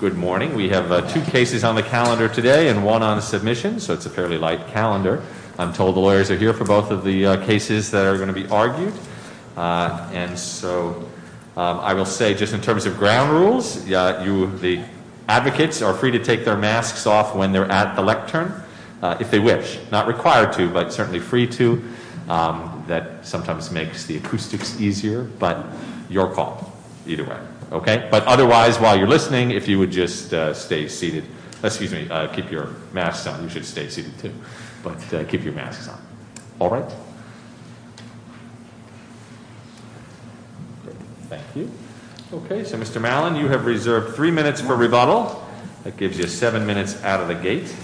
Good morning. We have two cases on the calendar today and one on a submission, so it's a fairly light calendar. I'm told the lawyers are here for both of the cases that are going to be argued. And so I will say just in terms of ground rules, the advocates are free to take their masks off when they're at the lectern, if they wish. Not required to, but certainly free to. That sometimes makes the acoustics easier, but your call either way, okay? But otherwise, while you're listening, if you would just stay seated, excuse me, keep your masks on. You should stay seated too, but keep your masks on. All right? Thank you. Okay, so Mr. Malin, you have reserved three minutes for rebuttal. That gives you seven minutes out of the gate.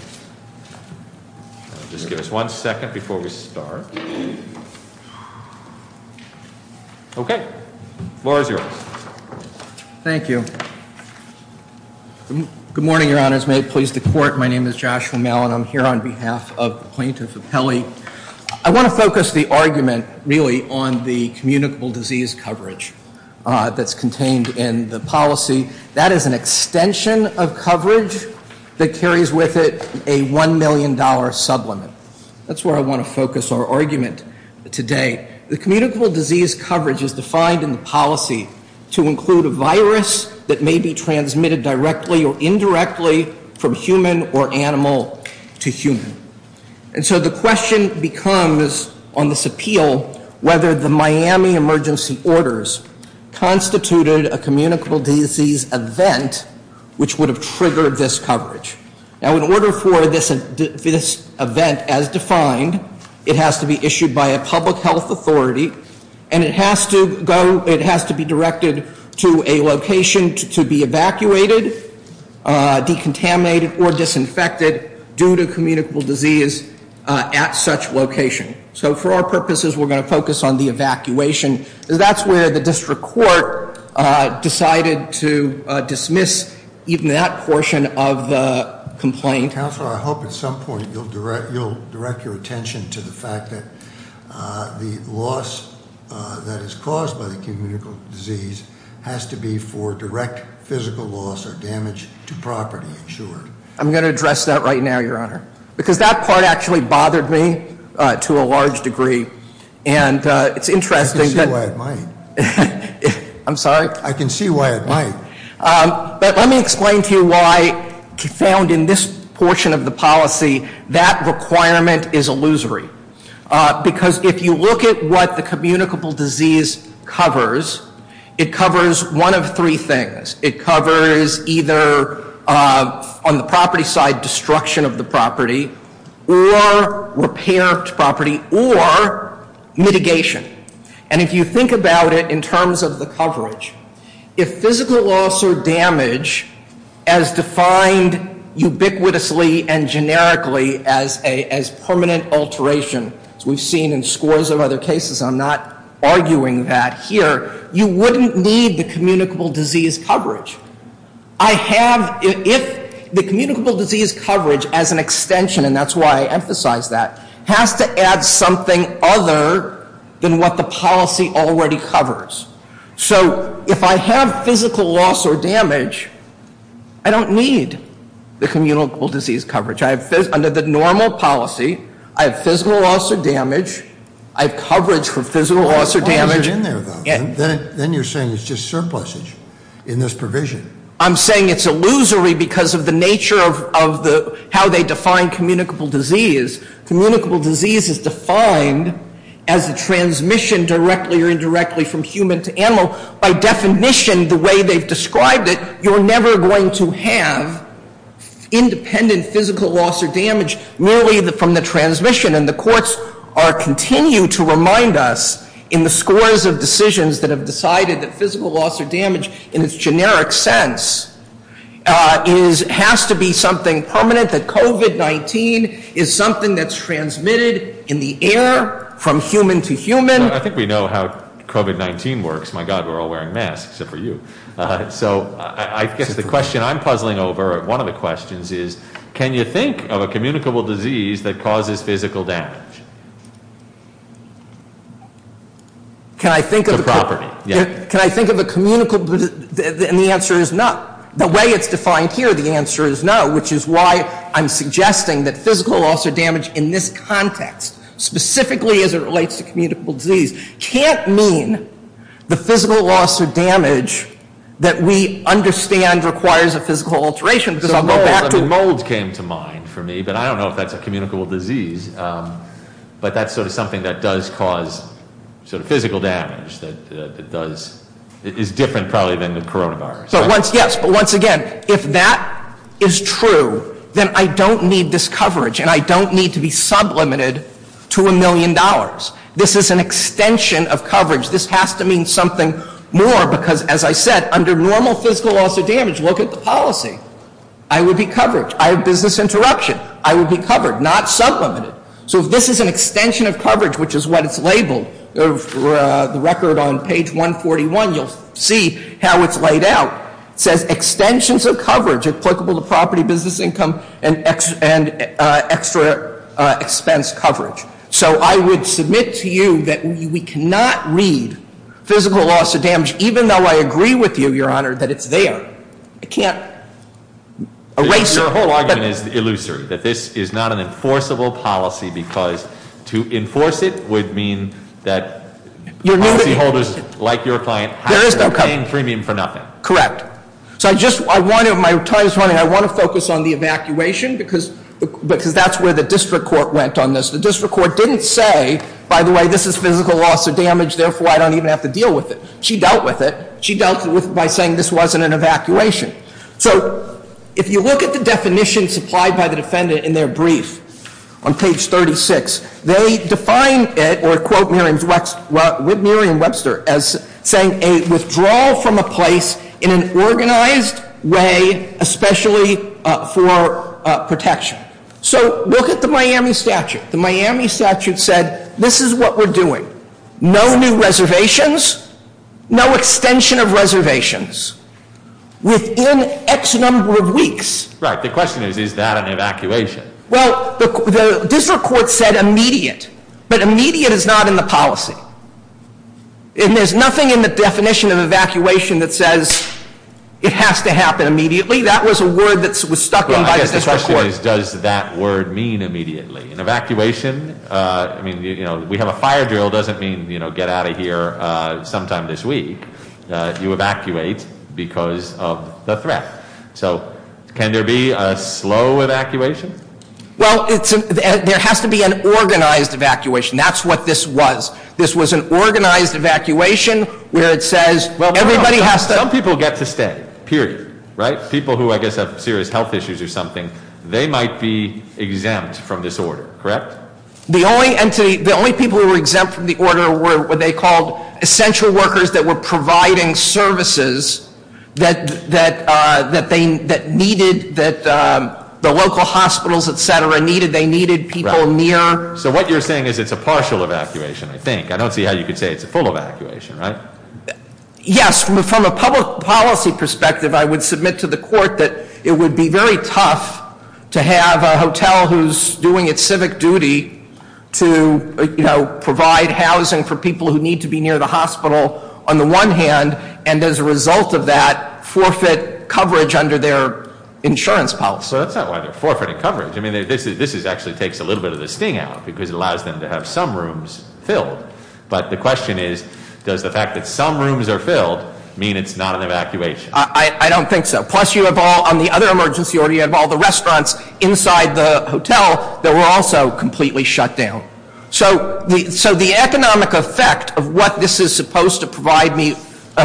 Just give us one second before we start. Okay, the floor is yours. Thank you. Good morning, Your Honors. May it please the Court, my name is Joshua Malin. I'm here on behalf of the plaintiffs' appellee. I want to focus the argument, really, on the communicable disease coverage that's contained in the policy. That is an extension of coverage that carries with it a $1 million sublimit. That's where I want to focus our argument today. The communicable disease coverage is defined in the policy to include a virus that may be transmitted directly or indirectly from human or animal to human. And so the question becomes on this appeal whether the Miami emergency orders constituted a communicable disease event which would have triggered this coverage. Now, in order for this event, as defined, it has to be issued by a public health authority, and it has to be directed to a location to be evacuated, decontaminated, or disinfected due to communicable disease at such location. So for our purposes, we're going to focus on the evacuation. That's where the district court decided to dismiss even that portion of the complaint. Counselor, I hope at some point you'll direct your attention to the fact that the loss that is caused by the communicable disease has to be for direct physical loss or damage to property insured. I'm going to address that right now, Your Honor. Because that part actually bothered me to a large degree. And it's interesting that- I can see why it might. I'm sorry? I can see why it might. But let me explain to you why, found in this portion of the policy, that requirement is illusory. Because if you look at what the communicable disease covers, it covers one of three things. It covers either, on the property side, destruction of the property, or repair to property, or mitigation. And if you think about it in terms of the coverage, if physical loss or damage, as defined ubiquitously and generically as permanent alteration, as we've seen in scores of other cases, I'm not arguing that here, you wouldn't need the communicable disease coverage. I have- if the communicable disease coverage, as an extension, and that's why I emphasize that, has to add something other than what the policy already covers. So if I have physical loss or damage, I don't need the communicable disease coverage. Under the normal policy, I have physical loss or damage. I have coverage for physical loss or damage. How long is it in there, though? Then you're saying it's just surplusage in this provision. I'm saying it's illusory because of the nature of how they define communicable disease. Communicable disease is defined as a transmission directly or indirectly from human to animal. By definition, the way they've described it, you're never going to have independent physical loss or damage, merely from the transmission. And the courts continue to remind us, in the scores of decisions that have decided that physical loss or damage, in its generic sense, has to be something permanent, that COVID-19 is something that's transmitted in the air from human to human. I think we know how COVID-19 works. My God, we're all wearing masks, except for you. So I guess the question I'm puzzling over, one of the questions is, can you think of a communicable disease that causes physical damage? Can I think of- It's a property. Can I think of a communicable- And the answer is no. The way it's defined here, the answer is no, which is why I'm suggesting that physical loss or damage in this context, specifically as it relates to communicable disease, can't mean the physical loss or damage that we understand requires a physical alteration. Because I'll go back to- So mold came to mind for me, but I don't know if that's a communicable disease. But that's sort of something that does cause sort of physical damage, that is different probably than the coronavirus. Yes, but once again, if that is true, then I don't need this coverage, and I don't need to be sublimated to a million dollars. This is an extension of coverage. This has to mean something more because, as I said, under normal physical loss or damage, look at the policy. I would be covered. I have business interruption. I would be covered, not sublimated. So if this is an extension of coverage, which is what it's labeled, the record on page 141, you'll see how it's laid out. It says extensions of coverage applicable to property, business income, and extra expense coverage. So I would submit to you that we cannot read physical loss or damage, even though I agree with you, Your Honor, that it's there. I can't erase it. My whole argument is illusory, that this is not an enforceable policy because to enforce it would mean that policyholders like your client have to be paying premium for nothing. Correct. So my time is running. I want to focus on the evacuation because that's where the district court went on this. The district court didn't say, by the way, this is physical loss or damage, therefore I don't even have to deal with it. She dealt with it. She dealt with it by saying this wasn't an evacuation. So if you look at the definition supplied by the defendant in their brief on page 36, they define it or quote Merriam-Webster as saying a withdrawal from a place in an organized way, especially for protection. So look at the Miami statute. The Miami statute said this is what we're doing, no new reservations, no extension of reservations within X number of weeks. Right. The question is, is that an evacuation? Well, the district court said immediate, but immediate is not in the policy. And there's nothing in the definition of evacuation that says it has to happen immediately. That was a word that was stuck in by the district court. Well, I guess the question is, does that word mean immediately? An evacuation, I mean, we have a fire drill doesn't mean get out of here sometime this week. You evacuate because of the threat. So can there be a slow evacuation? Well, there has to be an organized evacuation. That's what this was. This was an organized evacuation where it says everybody has to- Well, some people get to stay, period, right? People who, I guess, have serious health issues or something, they might be exempt from this order, correct? The only people who were exempt from the order were what they called essential workers that were providing services that the local hospitals, etc., needed. They needed people near- So what you're saying is it's a partial evacuation, I think. I don't see how you could say it's a full evacuation, right? Yes, from a public policy perspective, I would submit to the court that it would be very tough to have a hotel who's doing its civic duty to provide housing for people who need to be near the hospital on the one hand, and as a result of that, forfeit coverage under their insurance policy. Well, that's not why they're forfeiting coverage. I mean, this actually takes a little bit of the sting out because it allows them to have some rooms filled. But the question is, does the fact that some rooms are filled mean it's not an evacuation? I don't think so. Plus, you have all, on the other emergency order, you have all the restaurants inside the hotel that were also completely shut down. So the economic effect of what this is supposed to provide me,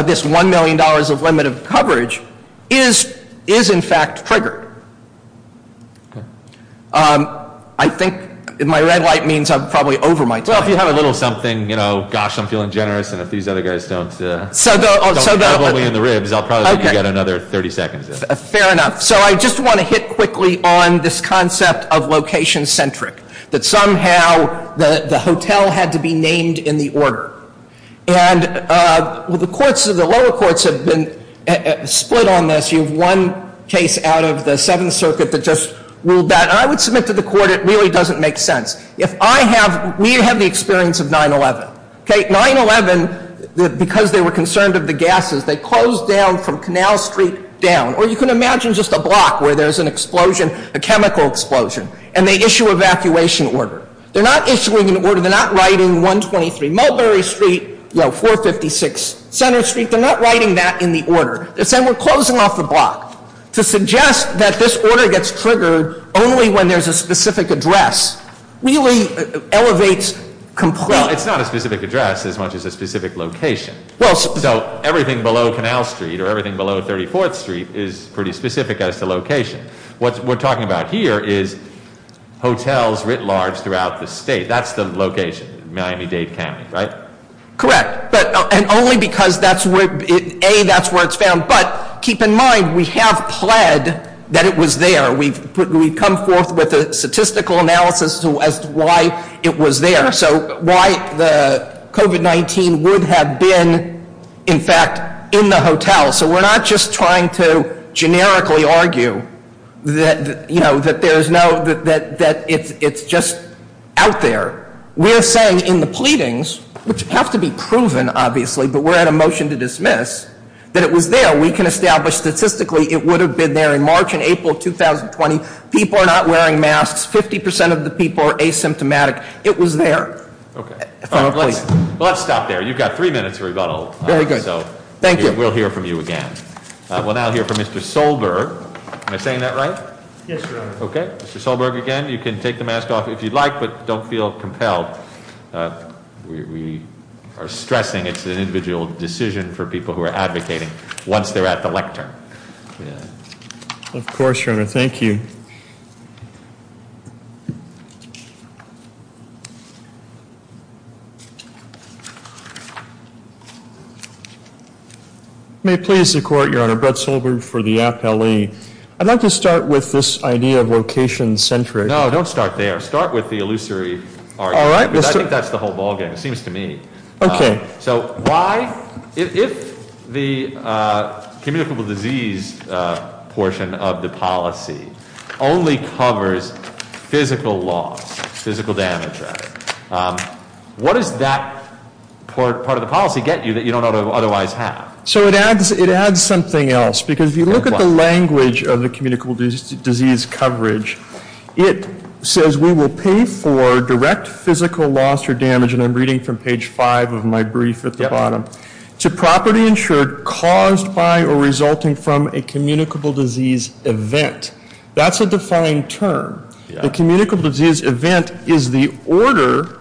this $1 million of limited coverage, is in fact triggered. I think my red light means I'm probably over my time. Well, if you have a little something, you know, gosh, I'm feeling generous. And if these other guys don't drive all the way in the ribs, I'll probably give you another 30 seconds. Fair enough. So I just want to hit quickly on this concept of location-centric, that somehow the hotel had to be named in the order. And the courts, the lower courts have been split on this. You have one case out of the Seventh Circuit that just ruled that. I would submit to the court it really doesn't make sense. If I have, we have the experience of 9-11. 9-11, because they were concerned of the gases, they closed down from Canal Street down. Or you can imagine just a block where there's an explosion, a chemical explosion, and they issue evacuation order. They're not issuing an order. They're not writing 123 Mulberry Street, 456 Center Street. They're not writing that in the order. They're saying we're closing off the block. To suggest that this order gets triggered only when there's a specific address really elevates complete- Well, it's not a specific address as much as a specific location. So everything below Canal Street or everything below 34th Street is pretty specific as to location. What we're talking about here is hotels writ large throughout the state. That's the location, Miami-Dade County, right? Correct. And only because that's where, A, that's where it's found. But keep in mind, we have pled that it was there. We've come forth with a statistical analysis as to why it was there. So why the COVID-19 would have been, in fact, in the hotel. So we're not just trying to generically argue that, you know, that there's no, that it's just out there. We're saying in the pleadings, which have to be proven, obviously, but we're at a motion to dismiss, that it was there. We can establish statistically it would have been there in March and April of 2020. People are not wearing masks. 50% of the people are asymptomatic. It was there. Okay. Let's stop there. You've got three minutes of rebuttal. Very good. Thank you. We'll hear from you again. We'll now hear from Mr. Solberg. Am I saying that right? Yes, Your Honor. Okay. Mr. Solberg again. You can take the mask off if you'd like, but don't feel compelled. We are stressing it's an individual decision for people who are advocating once they're at the lectern. Of course, Your Honor. Thank you. May it please the Court, Your Honor, Brett Solberg for the Appalachee. I'd like to start with this idea of location-centric. No, don't start there. Start with the illusory argument. All right. I think that's the whole ballgame, it seems to me. Okay. So why, if the communicable disease portion of the policy only covers physical loss, physical damage rather, what does that part of the policy get you that you don't otherwise have? So it adds something else because if you look at the language of the communicable disease coverage, it says we will pay for direct physical loss or damage, and I'm reading from page five of my brief at the bottom, to property insured caused by or resulting from a communicable disease event. That's a defined term. A communicable disease event is the order,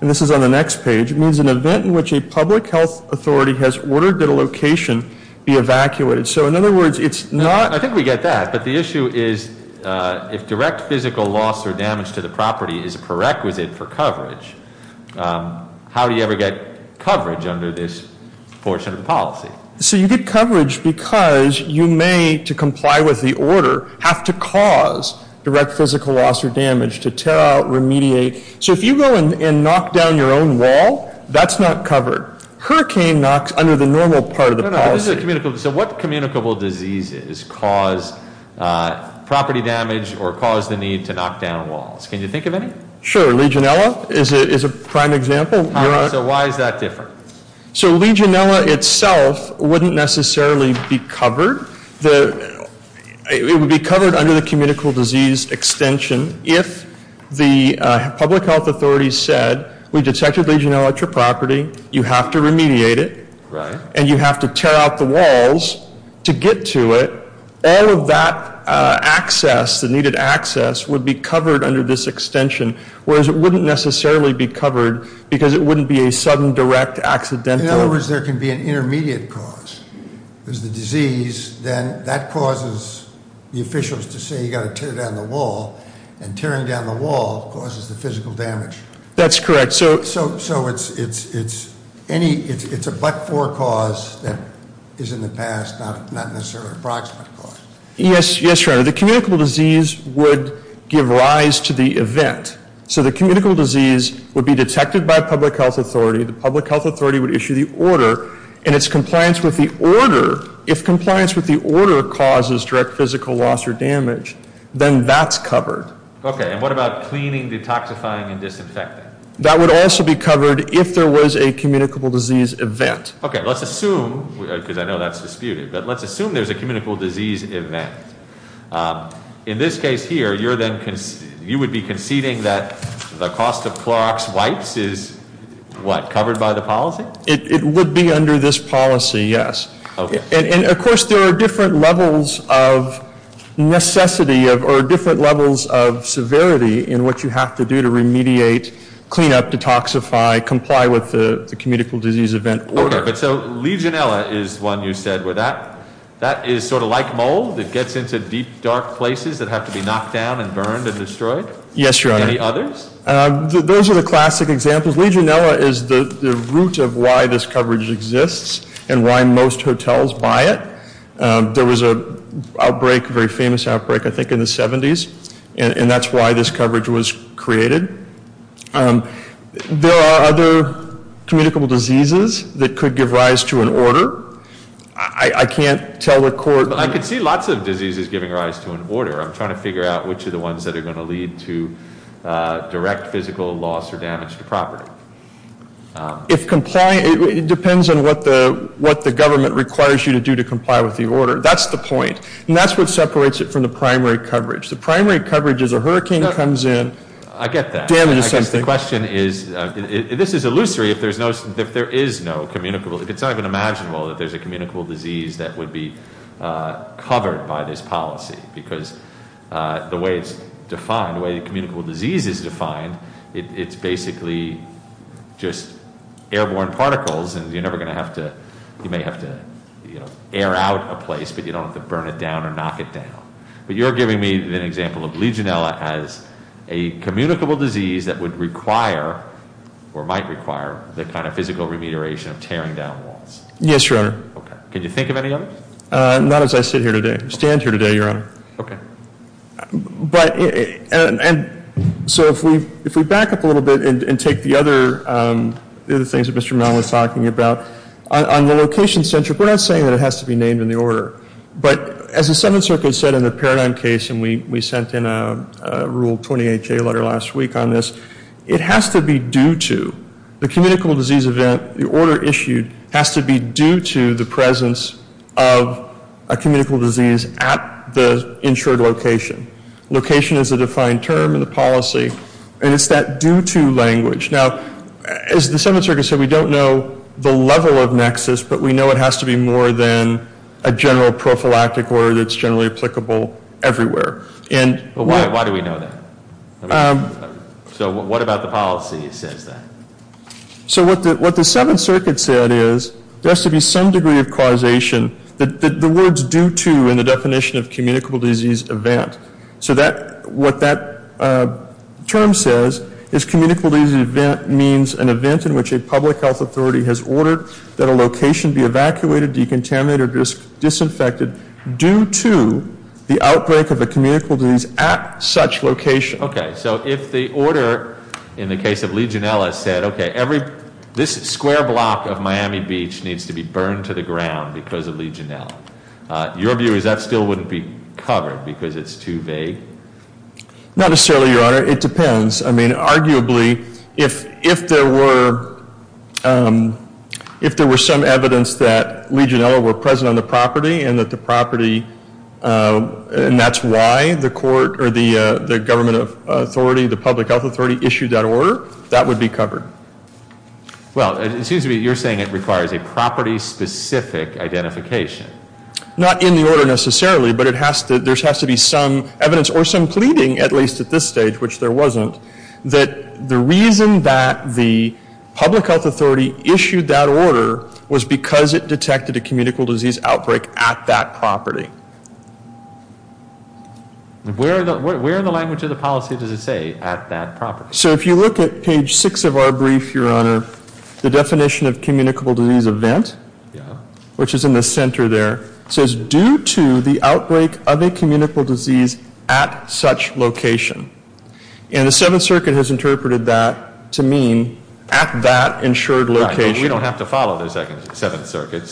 and this is on the next page, means an event in which a public health authority has ordered that a location be evacuated. So in other words, it's not- I think we get that, but the issue is if direct physical loss or damage to the property is a prerequisite for coverage, how do you ever get coverage under this portion of the policy? So you get coverage because you may, to comply with the order, have to cause direct physical loss or damage to tear out, remediate. So if you go and knock down your own wall, that's not covered. Hurricane knocks under the normal part of the policy. So what communicable diseases cause property damage or cause the need to knock down walls? Can you think of any? Sure. Legionella is a prime example. So why is that different? So Legionella itself wouldn't necessarily be covered. It would be covered under the communicable disease extension if the public health authorities said we detected Legionella at your property, you have to remediate it, and you have to tear out the walls to get to it. All of that access, the needed access, would be covered under this extension, whereas it wouldn't necessarily be covered because it wouldn't be a sudden, direct, accidental- In other words, there can be an intermediate cause. There's the disease, then that causes the officials to say you've got to tear down the wall, and tearing down the wall causes the physical damage. That's correct. So it's a but-for cause that is in the past, not necessarily an approximate cause. Yes, Your Honor. The communicable disease would give rise to the event. So the communicable disease would be detected by a public health authority, the public health authority would issue the order, and its compliance with the order, if compliance with the order causes direct physical loss or damage, then that's covered. Okay, and what about cleaning, detoxifying, and disinfecting? That would also be covered if there was a communicable disease event. Okay, let's assume, because I know that's disputed, but let's assume there's a communicable disease event. In this case here, you would be conceding that the cost of Clorox wipes is, what, covered by the policy? It would be under this policy, yes. And, of course, there are different levels of necessity, or different levels of severity, in what you have to do to remediate, clean up, detoxify, comply with the communicable disease event order. But so Legionella is one you said, where that is sort of like mold, it gets into deep, dark places that have to be knocked down and burned and destroyed? Yes, Your Honor. Any others? Those are the classic examples. Legionella is the root of why this coverage exists and why most hotels buy it. There was an outbreak, a very famous outbreak, I think in the 70s, and that's why this coverage was created. There are other communicable diseases that could give rise to an order. I can't tell the court- I can see lots of diseases giving rise to an order. I'm trying to figure out which are the ones that are going to lead to direct physical loss or damage to property. It depends on what the government requires you to do to comply with the order. That's the point. And that's what separates it from the primary coverage. The primary coverage is a hurricane comes in- I get that. Damage is something. I guess the question is, this is illusory if there is no communicable- if it's not even imaginable that there's a communicable disease that would be covered by this policy. Because the way it's defined, the way the communicable disease is defined, it's basically just airborne particles and you're never going to have to- you may have to air out a place, but you don't have to burn it down or knock it down. But you're giving me an example of Legionella as a communicable disease that would require or might require the kind of physical remediation of tearing down walls. Yes, Your Honor. Okay. Can you think of any others? Not as I sit here today. I stand here today, Your Honor. Okay. But- and so if we back up a little bit and take the other things that Mr. Mellon was talking about, on the location-centric, we're not saying that it has to be named in the order. But as the Seventh Circuit said in the Paradigm case, and we sent in a Rule 20HA letter last week on this, it has to be due to- the communicable disease event, the order issued, has to be due to the presence of a communicable disease at the insured location. Location is a defined term in the policy, and it's that due-to language. Now, as the Seventh Circuit said, we don't know the level of nexus, but we know it has to be more than a general prophylactic order that's generally applicable everywhere. But why do we know that? So what about the policy that says that? So what the Seventh Circuit said is there has to be some degree of causation, the words due to in the definition of communicable disease event. So what that term says is communicable disease event means an event in which a public health authority has ordered that a location be evacuated, decontaminated, or disinfected due to the outbreak of a communicable disease at such location. Okay, so if the order in the case of Legionella said, okay, this square block of Miami Beach needs to be burned to the ground because of Legionella, your view is that still wouldn't be covered because it's too vague? Not necessarily, Your Honor. It depends. I mean, arguably, if there were some evidence that Legionella were present on the property and that the property and that's why the court or the government authority, the public health authority, issued that order, that would be covered. Well, it seems to me you're saying it requires a property-specific identification. Not in the order necessarily, but there has to be some evidence or some pleading, at least at this stage, which there wasn't, that the reason that the public health authority issued that order was because it detected a communicable disease outbreak at that property. Where in the language of the policy does it say at that property? So if you look at page 6 of our brief, Your Honor, the definition of communicable disease event, which is in the center there, says due to the outbreak of a communicable disease at such location. And the Seventh Circuit has interpreted that to mean at that insured location. We don't have to follow the Seventh Circuit.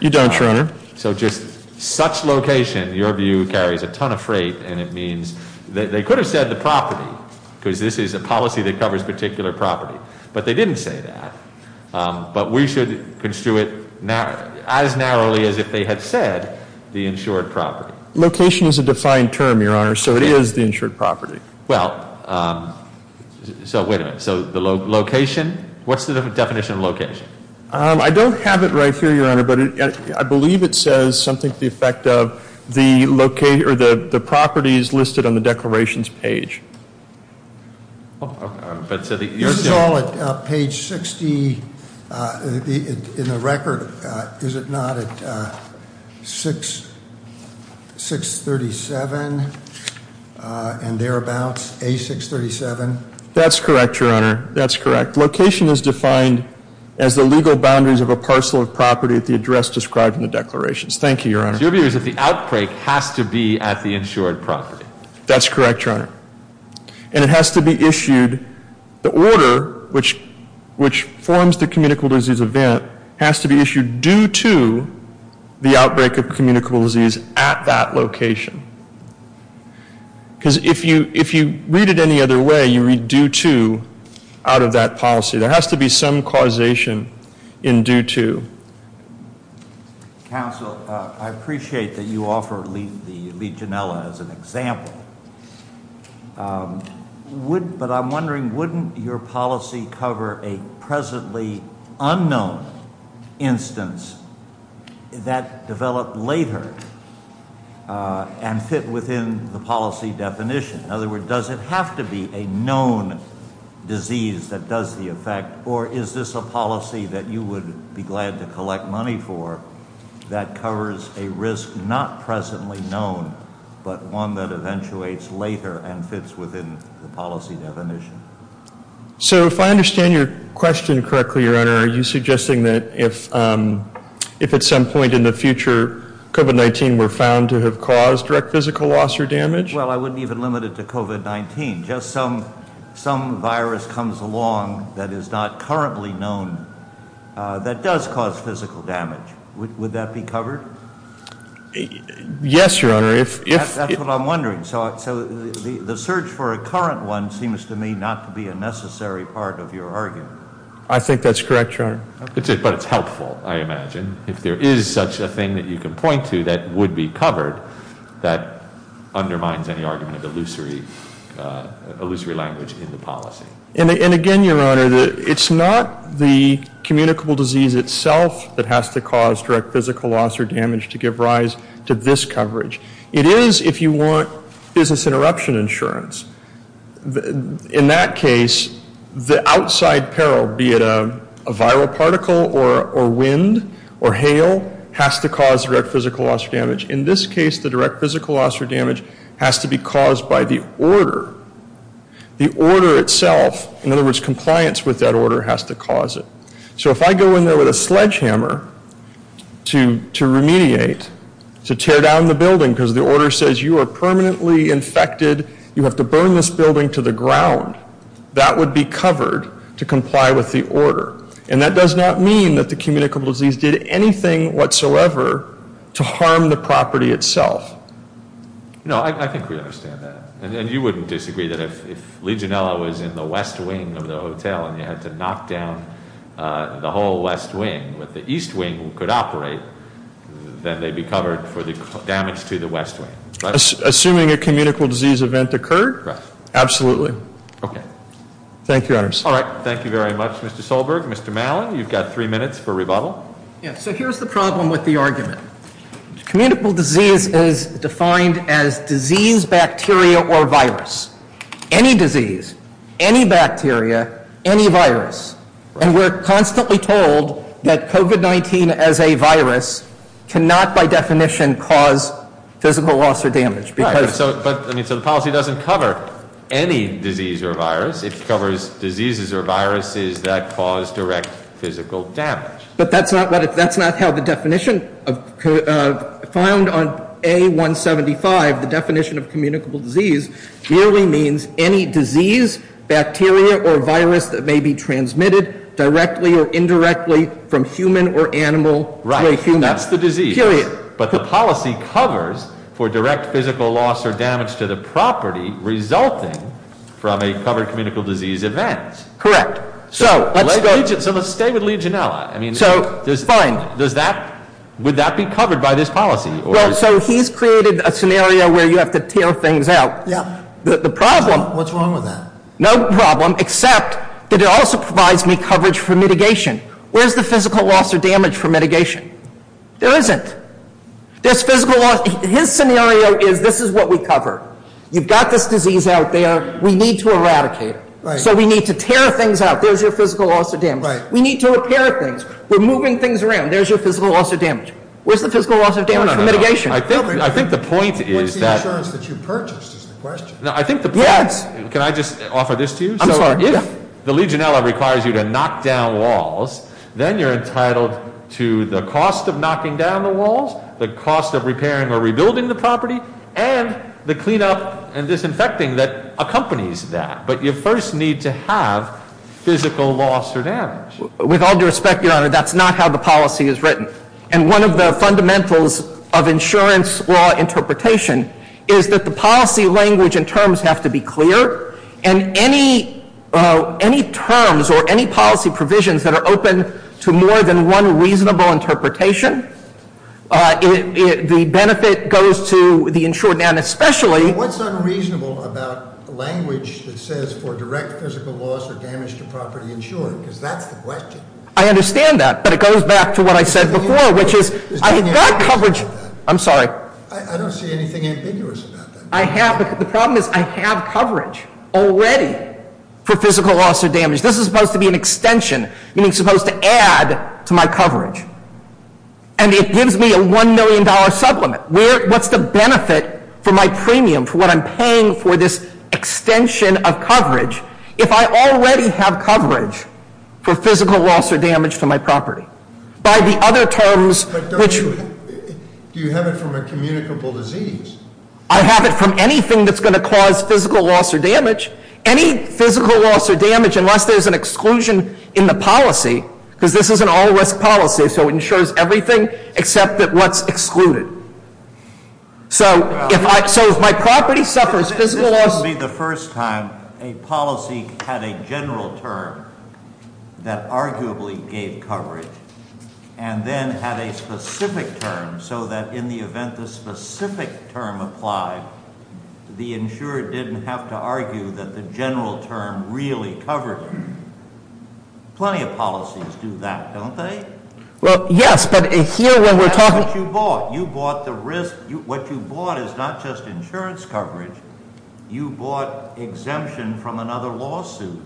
You don't, Your Honor. So just such location, your view, carries a ton of freight and it means they could have said the property because this is a policy that covers particular property, but they didn't say that. But we should construe it as narrowly as if they had said the insured property. Location is a defined term, Your Honor, so it is the insured property. Well, so wait a minute. So the location, what's the definition of location? I don't have it right here, Your Honor, but I believe it says something to the effect of the property is listed on the declarations page. This is all at page 60 in the record. Is it not at 637 and thereabouts, A637? That's correct, Your Honor. That's correct. Location is defined as the legal boundaries of a parcel of property at the address described in the declarations. Thank you, Your Honor. So your view is that the outbreak has to be at the insured property? That's correct, Your Honor. And it has to be issued, the order which forms the communicable disease event has to be issued due to the outbreak of communicable disease at that location. Because if you read it any other way, you read due to out of that policy. There has to be some causation in due to. Counsel, I appreciate that you offer the Legionella as an example. But I'm wondering, wouldn't your policy cover a presently unknown instance that developed later and fit within the policy definition? In other words, does it have to be a known disease that does the effect? Or is this a policy that you would be glad to collect money for that covers a risk not presently known, but one that eventuates later and fits within the policy definition? So if I understand your question correctly, Your Honor, are you suggesting that if at some point in the future, COVID-19 were found to have caused direct physical loss or damage? Well, I wouldn't even limit it to COVID-19. Just some virus comes along that is not currently known that does cause physical damage. Would that be covered? Yes, Your Honor. That's what I'm wondering. So the search for a current one seems to me not to be a necessary part of your argument. I think that's correct, Your Honor. But it's helpful, I imagine. If there is such a thing that you can point to that would be covered, that undermines any argument of illusory language in the policy. And again, Your Honor, it's not the communicable disease itself that has to cause direct physical loss or damage to give rise to this coverage. It is if you want business interruption insurance. In that case, the outside peril, be it a viral particle or wind or hail, has to cause direct physical loss or damage. In this case, the direct physical loss or damage has to be caused by the order. The order itself, in other words, compliance with that order, has to cause it. So if I go in there with a sledgehammer to remediate, to tear down the building because the order says you are permanently infected, you have to burn this building to the ground, that would be covered to comply with the order. And that does not mean that the communicable disease did anything whatsoever to harm the property itself. No, I think we understand that. And you wouldn't disagree that if Legionella was in the west wing of the hotel and you had to knock down the whole west wing, but the east wing could operate, then they'd be covered for the damage to the west wing. Assuming a communicable disease event occurred? Correct. Absolutely. Okay. Thank you, Your Honors. All right, thank you very much, Mr. Solberg. Mr. Malin, you've got three minutes for rebuttal. Yeah, so here's the problem with the argument. Communicable disease is defined as disease, bacteria, or virus. Any disease, any bacteria, any virus. And we're constantly told that COVID-19 as a virus cannot by definition cause physical loss or damage. Right, so the policy doesn't cover any disease or virus. It covers diseases or viruses that cause direct physical damage. But that's not how the definition found on A-175, the definition of communicable disease, merely means any disease, bacteria, or virus that may be transmitted directly or indirectly from human or animal to a human. Right, that's the disease. Period. But the policy covers for direct physical loss or damage to the property resulting from a covered communicable disease event. Correct. So let's stay with Legionella. Fine. Would that be covered by this policy? Well, so he's created a scenario where you have to tear things out. The problem- What's wrong with that? No problem, except that it also provides me coverage for mitigation. Where's the physical loss or damage for mitigation? There isn't. His scenario is this is what we cover. You've got this disease out there. We need to eradicate it. Right. So we need to tear things out. There's your physical loss or damage. Right. We need to repair things. We're moving things around. There's your physical loss or damage. Where's the physical loss or damage for mitigation? No, no, no. I think the point is that- Where's the insurance that you purchased is the question. No, I think the point- Yes. Can I just offer this to you? I'm sorry. So if the Legionella requires you to knock down walls, then you're entitled to the cost of knocking down the walls, the cost of repairing or rebuilding the property, and the cleanup and disinfecting that accompanies that. But you first need to have physical loss or damage. With all due respect, Your Honor, that's not how the policy is written. And one of the fundamentals of insurance law interpretation is that the policy language and terms have to be clear. And any terms or any policy provisions that are open to more than one reasonable interpretation, the benefit goes to the insured and especially- It says for direct physical loss or damage to property insured, because that's the question. I understand that, but it goes back to what I said before, which is I've got coverage- I'm sorry. I don't see anything ambiguous about that. The problem is I have coverage already for physical loss or damage. This is supposed to be an extension, meaning supposed to add to my coverage. And it gives me a $1 million supplement. What's the benefit for my premium, for what I'm paying for this extension of coverage, if I already have coverage for physical loss or damage to my property? By the other terms, which- But don't you- Do you have it from a communicable disease? I have it from anything that's going to cause physical loss or damage. Any physical loss or damage, unless there's an exclusion in the policy, because this is an all-risk policy, so it insures everything except that what's excluded. So if my property suffers physical loss- This would be the first time a policy had a general term that arguably gave coverage and then had a specific term so that in the event the specific term applied, the insurer didn't have to argue that the general term really covered it. Plenty of policies do that, don't they? Well, yes, but here when we're talking- That's what you bought. You bought the risk. What you bought is not just insurance coverage. You bought exemption from another lawsuit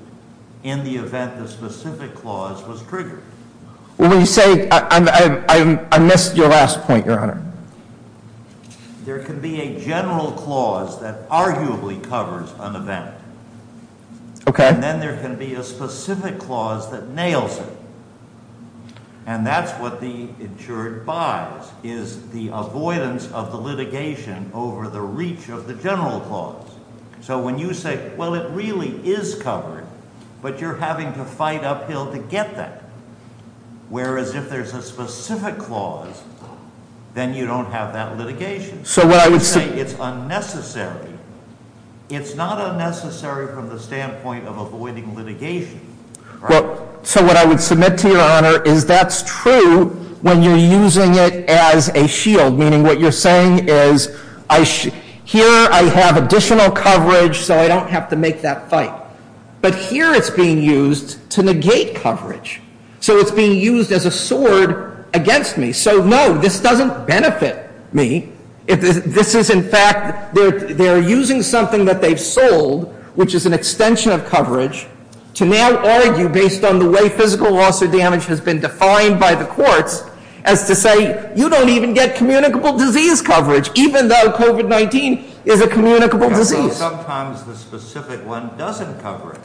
in the event the specific clause was triggered. Well, when you say- I missed your last point, Your Honor. There can be a general clause that arguably covers an event. Okay. And then there can be a specific clause that nails it, and that's what the insured buys, is the avoidance of the litigation over the reach of the general clause. So when you say, well, it really is covered, but you're having to fight uphill to get that, whereas if there's a specific clause, then you don't have that litigation. So what I would say- Well, so what I would submit to Your Honor is that's true when you're using it as a shield, meaning what you're saying is, here I have additional coverage, so I don't have to make that fight. But here it's being used to negate coverage. So it's being used as a sword against me. So, no, this doesn't benefit me. This is, in fact, they're using something that they've sold, which is an extension of coverage, to now argue, based on the way physical loss or damage has been defined by the courts, as to say, you don't even get communicable disease coverage, even though COVID-19 is a communicable disease. Sometimes the specific one doesn't cover it,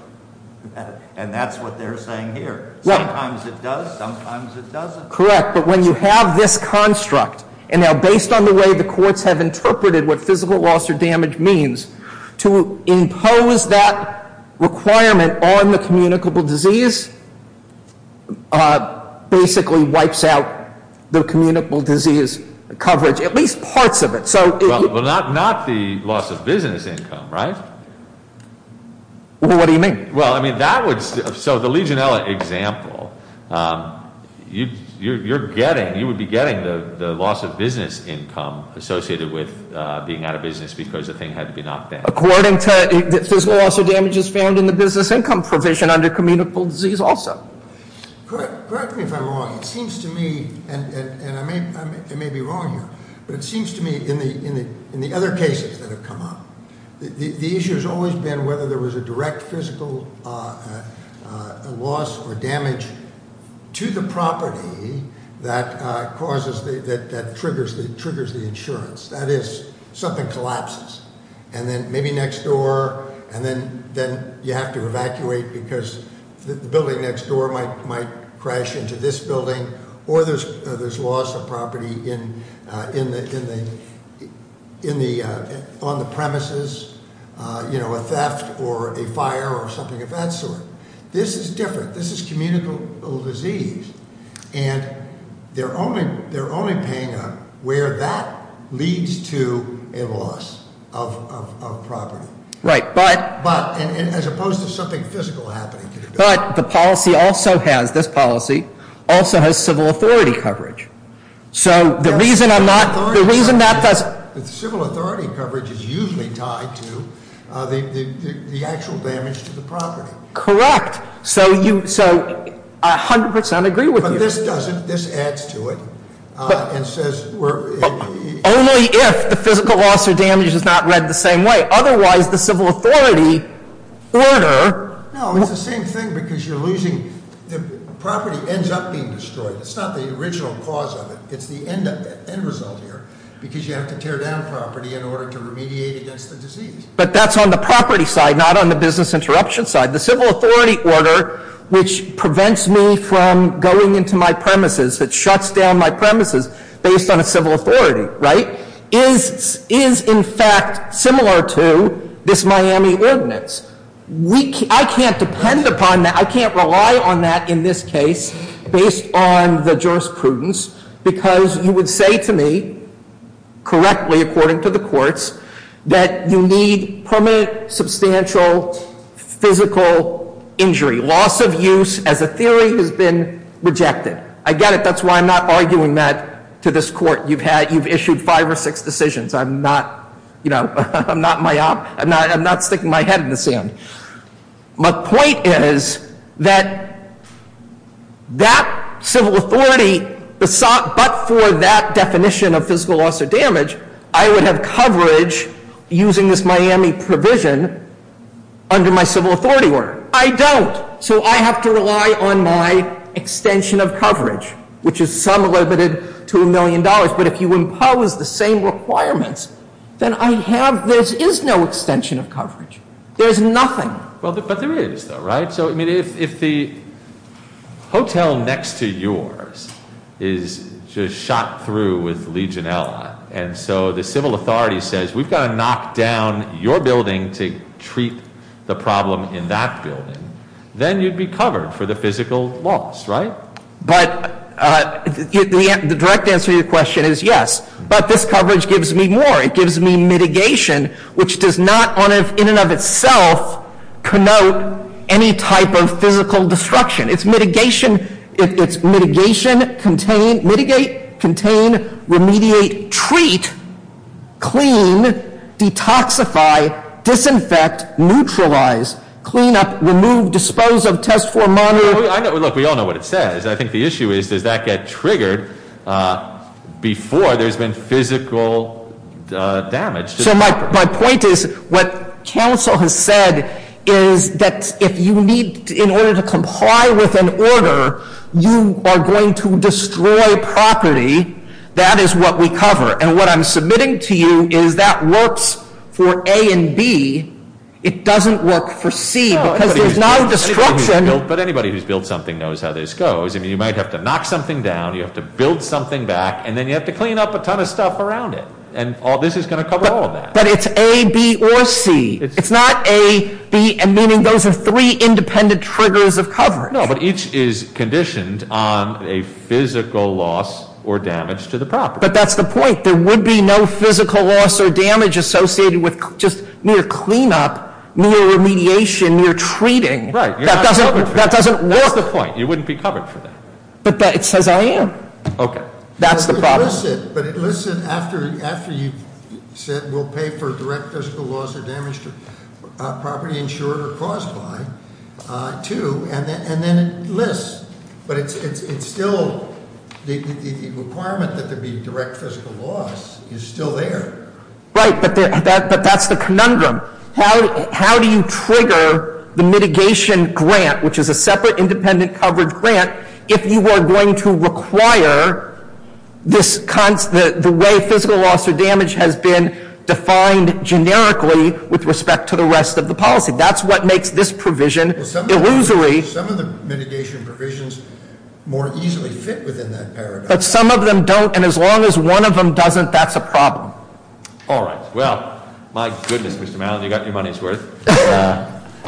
and that's what they're saying here. Sometimes it does, sometimes it doesn't. Correct, but when you have this construct, and now based on the way the courts have interpreted what physical loss or damage means, to impose that requirement on the communicable disease, basically wipes out the communicable disease coverage, at least parts of it. Well, not the loss of business income, right? What do you mean? Well, I mean, that would, so the Legionella example, you're getting, you would be getting the loss of business income associated with being out of business because the thing had to be knocked down. According to the physical loss of damages found in the business income provision under communicable disease also. Correct me if I'm wrong. It seems to me, and I may be wrong here, but it seems to me in the other cases that have come up, the issue has always been whether there was a direct physical loss or damage to the property that triggers the insurance. That is, something collapses, and then maybe next door, and then you have to evacuate because the building next door might crash into this building. Or there's loss of property on the premises, a theft or a fire or something of that sort. This is different. This is communicable disease. And they're only paying up where that leads to a loss of property. Right, but- But, as opposed to something physical happening. But the policy also has, this policy, also has civil authority coverage. So the reason I'm not, the reason that does- The civil authority coverage is usually tied to the actual damage to the property. Correct. So you, so I 100% agree with you. But this doesn't. This adds to it and says we're- Only if the physical loss or damage is not read the same way. Otherwise, the civil authority order- No, it's the same thing, because you're losing, the property ends up being destroyed. It's not the original cause of it. It's the end result here, because you have to tear down property in order to remediate against the disease. But that's on the property side, not on the business interruption side. The civil authority order, which prevents me from going into my premises, that shuts down my premises based on a civil authority, right, is in fact similar to this Miami ordinance. I can't depend upon that. I can't rely on that in this case based on the jurisprudence, because you would say to me, correctly according to the courts, that you need permanent substantial physical injury. Loss of use as a theory has been rejected. I get it. That's why I'm not arguing that to this court. You've had, you've issued five or six decisions. I'm not, you know, I'm not sticking my head in the sand. My point is that that civil authority, but for that definition of physical loss or damage, I would have coverage using this Miami provision under my civil authority order. I don't. So I have to rely on my extension of coverage, which is some limited to a million dollars. But if you impose the same requirements, then I have, there is no extension of coverage. There's nothing. Well, but there is though, right? So, I mean, if the hotel next to yours is just shot through with Legionella, and so the civil authority says we've got to knock down your building to treat the problem in that building, then you'd be covered for the physical loss, right? But the direct answer to your question is yes. But this coverage gives me more. It gives me mitigation, which does not in and of itself connote any type of physical destruction. It's mitigation, it's mitigation, contain, mitigate, contain, remediate, treat, clean, detoxify, disinfect, neutralize, clean up, remove, dispose of, test for, monitor. Look, we all know what it says. I think the issue is, does that get triggered before there's been physical damage? So my point is, what counsel has said is that if you need, in order to comply with an order, you are going to destroy property. That is what we cover. And what I'm submitting to you is that works for A and B. It doesn't work for C because there's no destruction. But anybody who's built something knows how this goes. I mean, you might have to knock something down, you have to build something back, and then you have to clean up a ton of stuff around it. And this is going to cover all of that. But it's A, B, or C. It's not A, B, and meaning those are three independent triggers of coverage. No, but each is conditioned on a physical loss or damage to the property. But that's the point. There would be no physical loss or damage associated with just mere cleanup, mere remediation, mere treating. Right. That doesn't work. That's the point. You wouldn't be covered for that. But it says I am. Okay. That's the problem. But it lists it after you've said we'll pay for direct physical loss or damage to property insured or caused by, too. And then it lists. But it's still, the requirement that there be direct physical loss is still there. Right, but that's the conundrum. How do you trigger the mitigation grant, which is a separate independent coverage grant, if you are going to require the way physical loss or damage has been defined generically with respect to the rest of the policy? That's what makes this provision illusory. Some of the mitigation provisions more easily fit within that paradigm. But some of them don't, and as long as one of them doesn't, that's a problem. All right, well, my goodness, Mr. Mallon, you got your money's worth.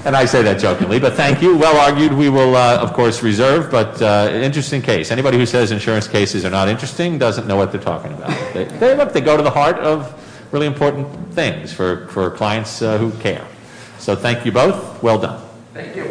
And I say that jokingly, but thank you. Well argued, we will, of course, reserve. But an interesting case. Anybody who says insurance cases are not interesting doesn't know what they're talking about. They go to the heart of really important things for clients who care. So thank you both. Well done. Thank you.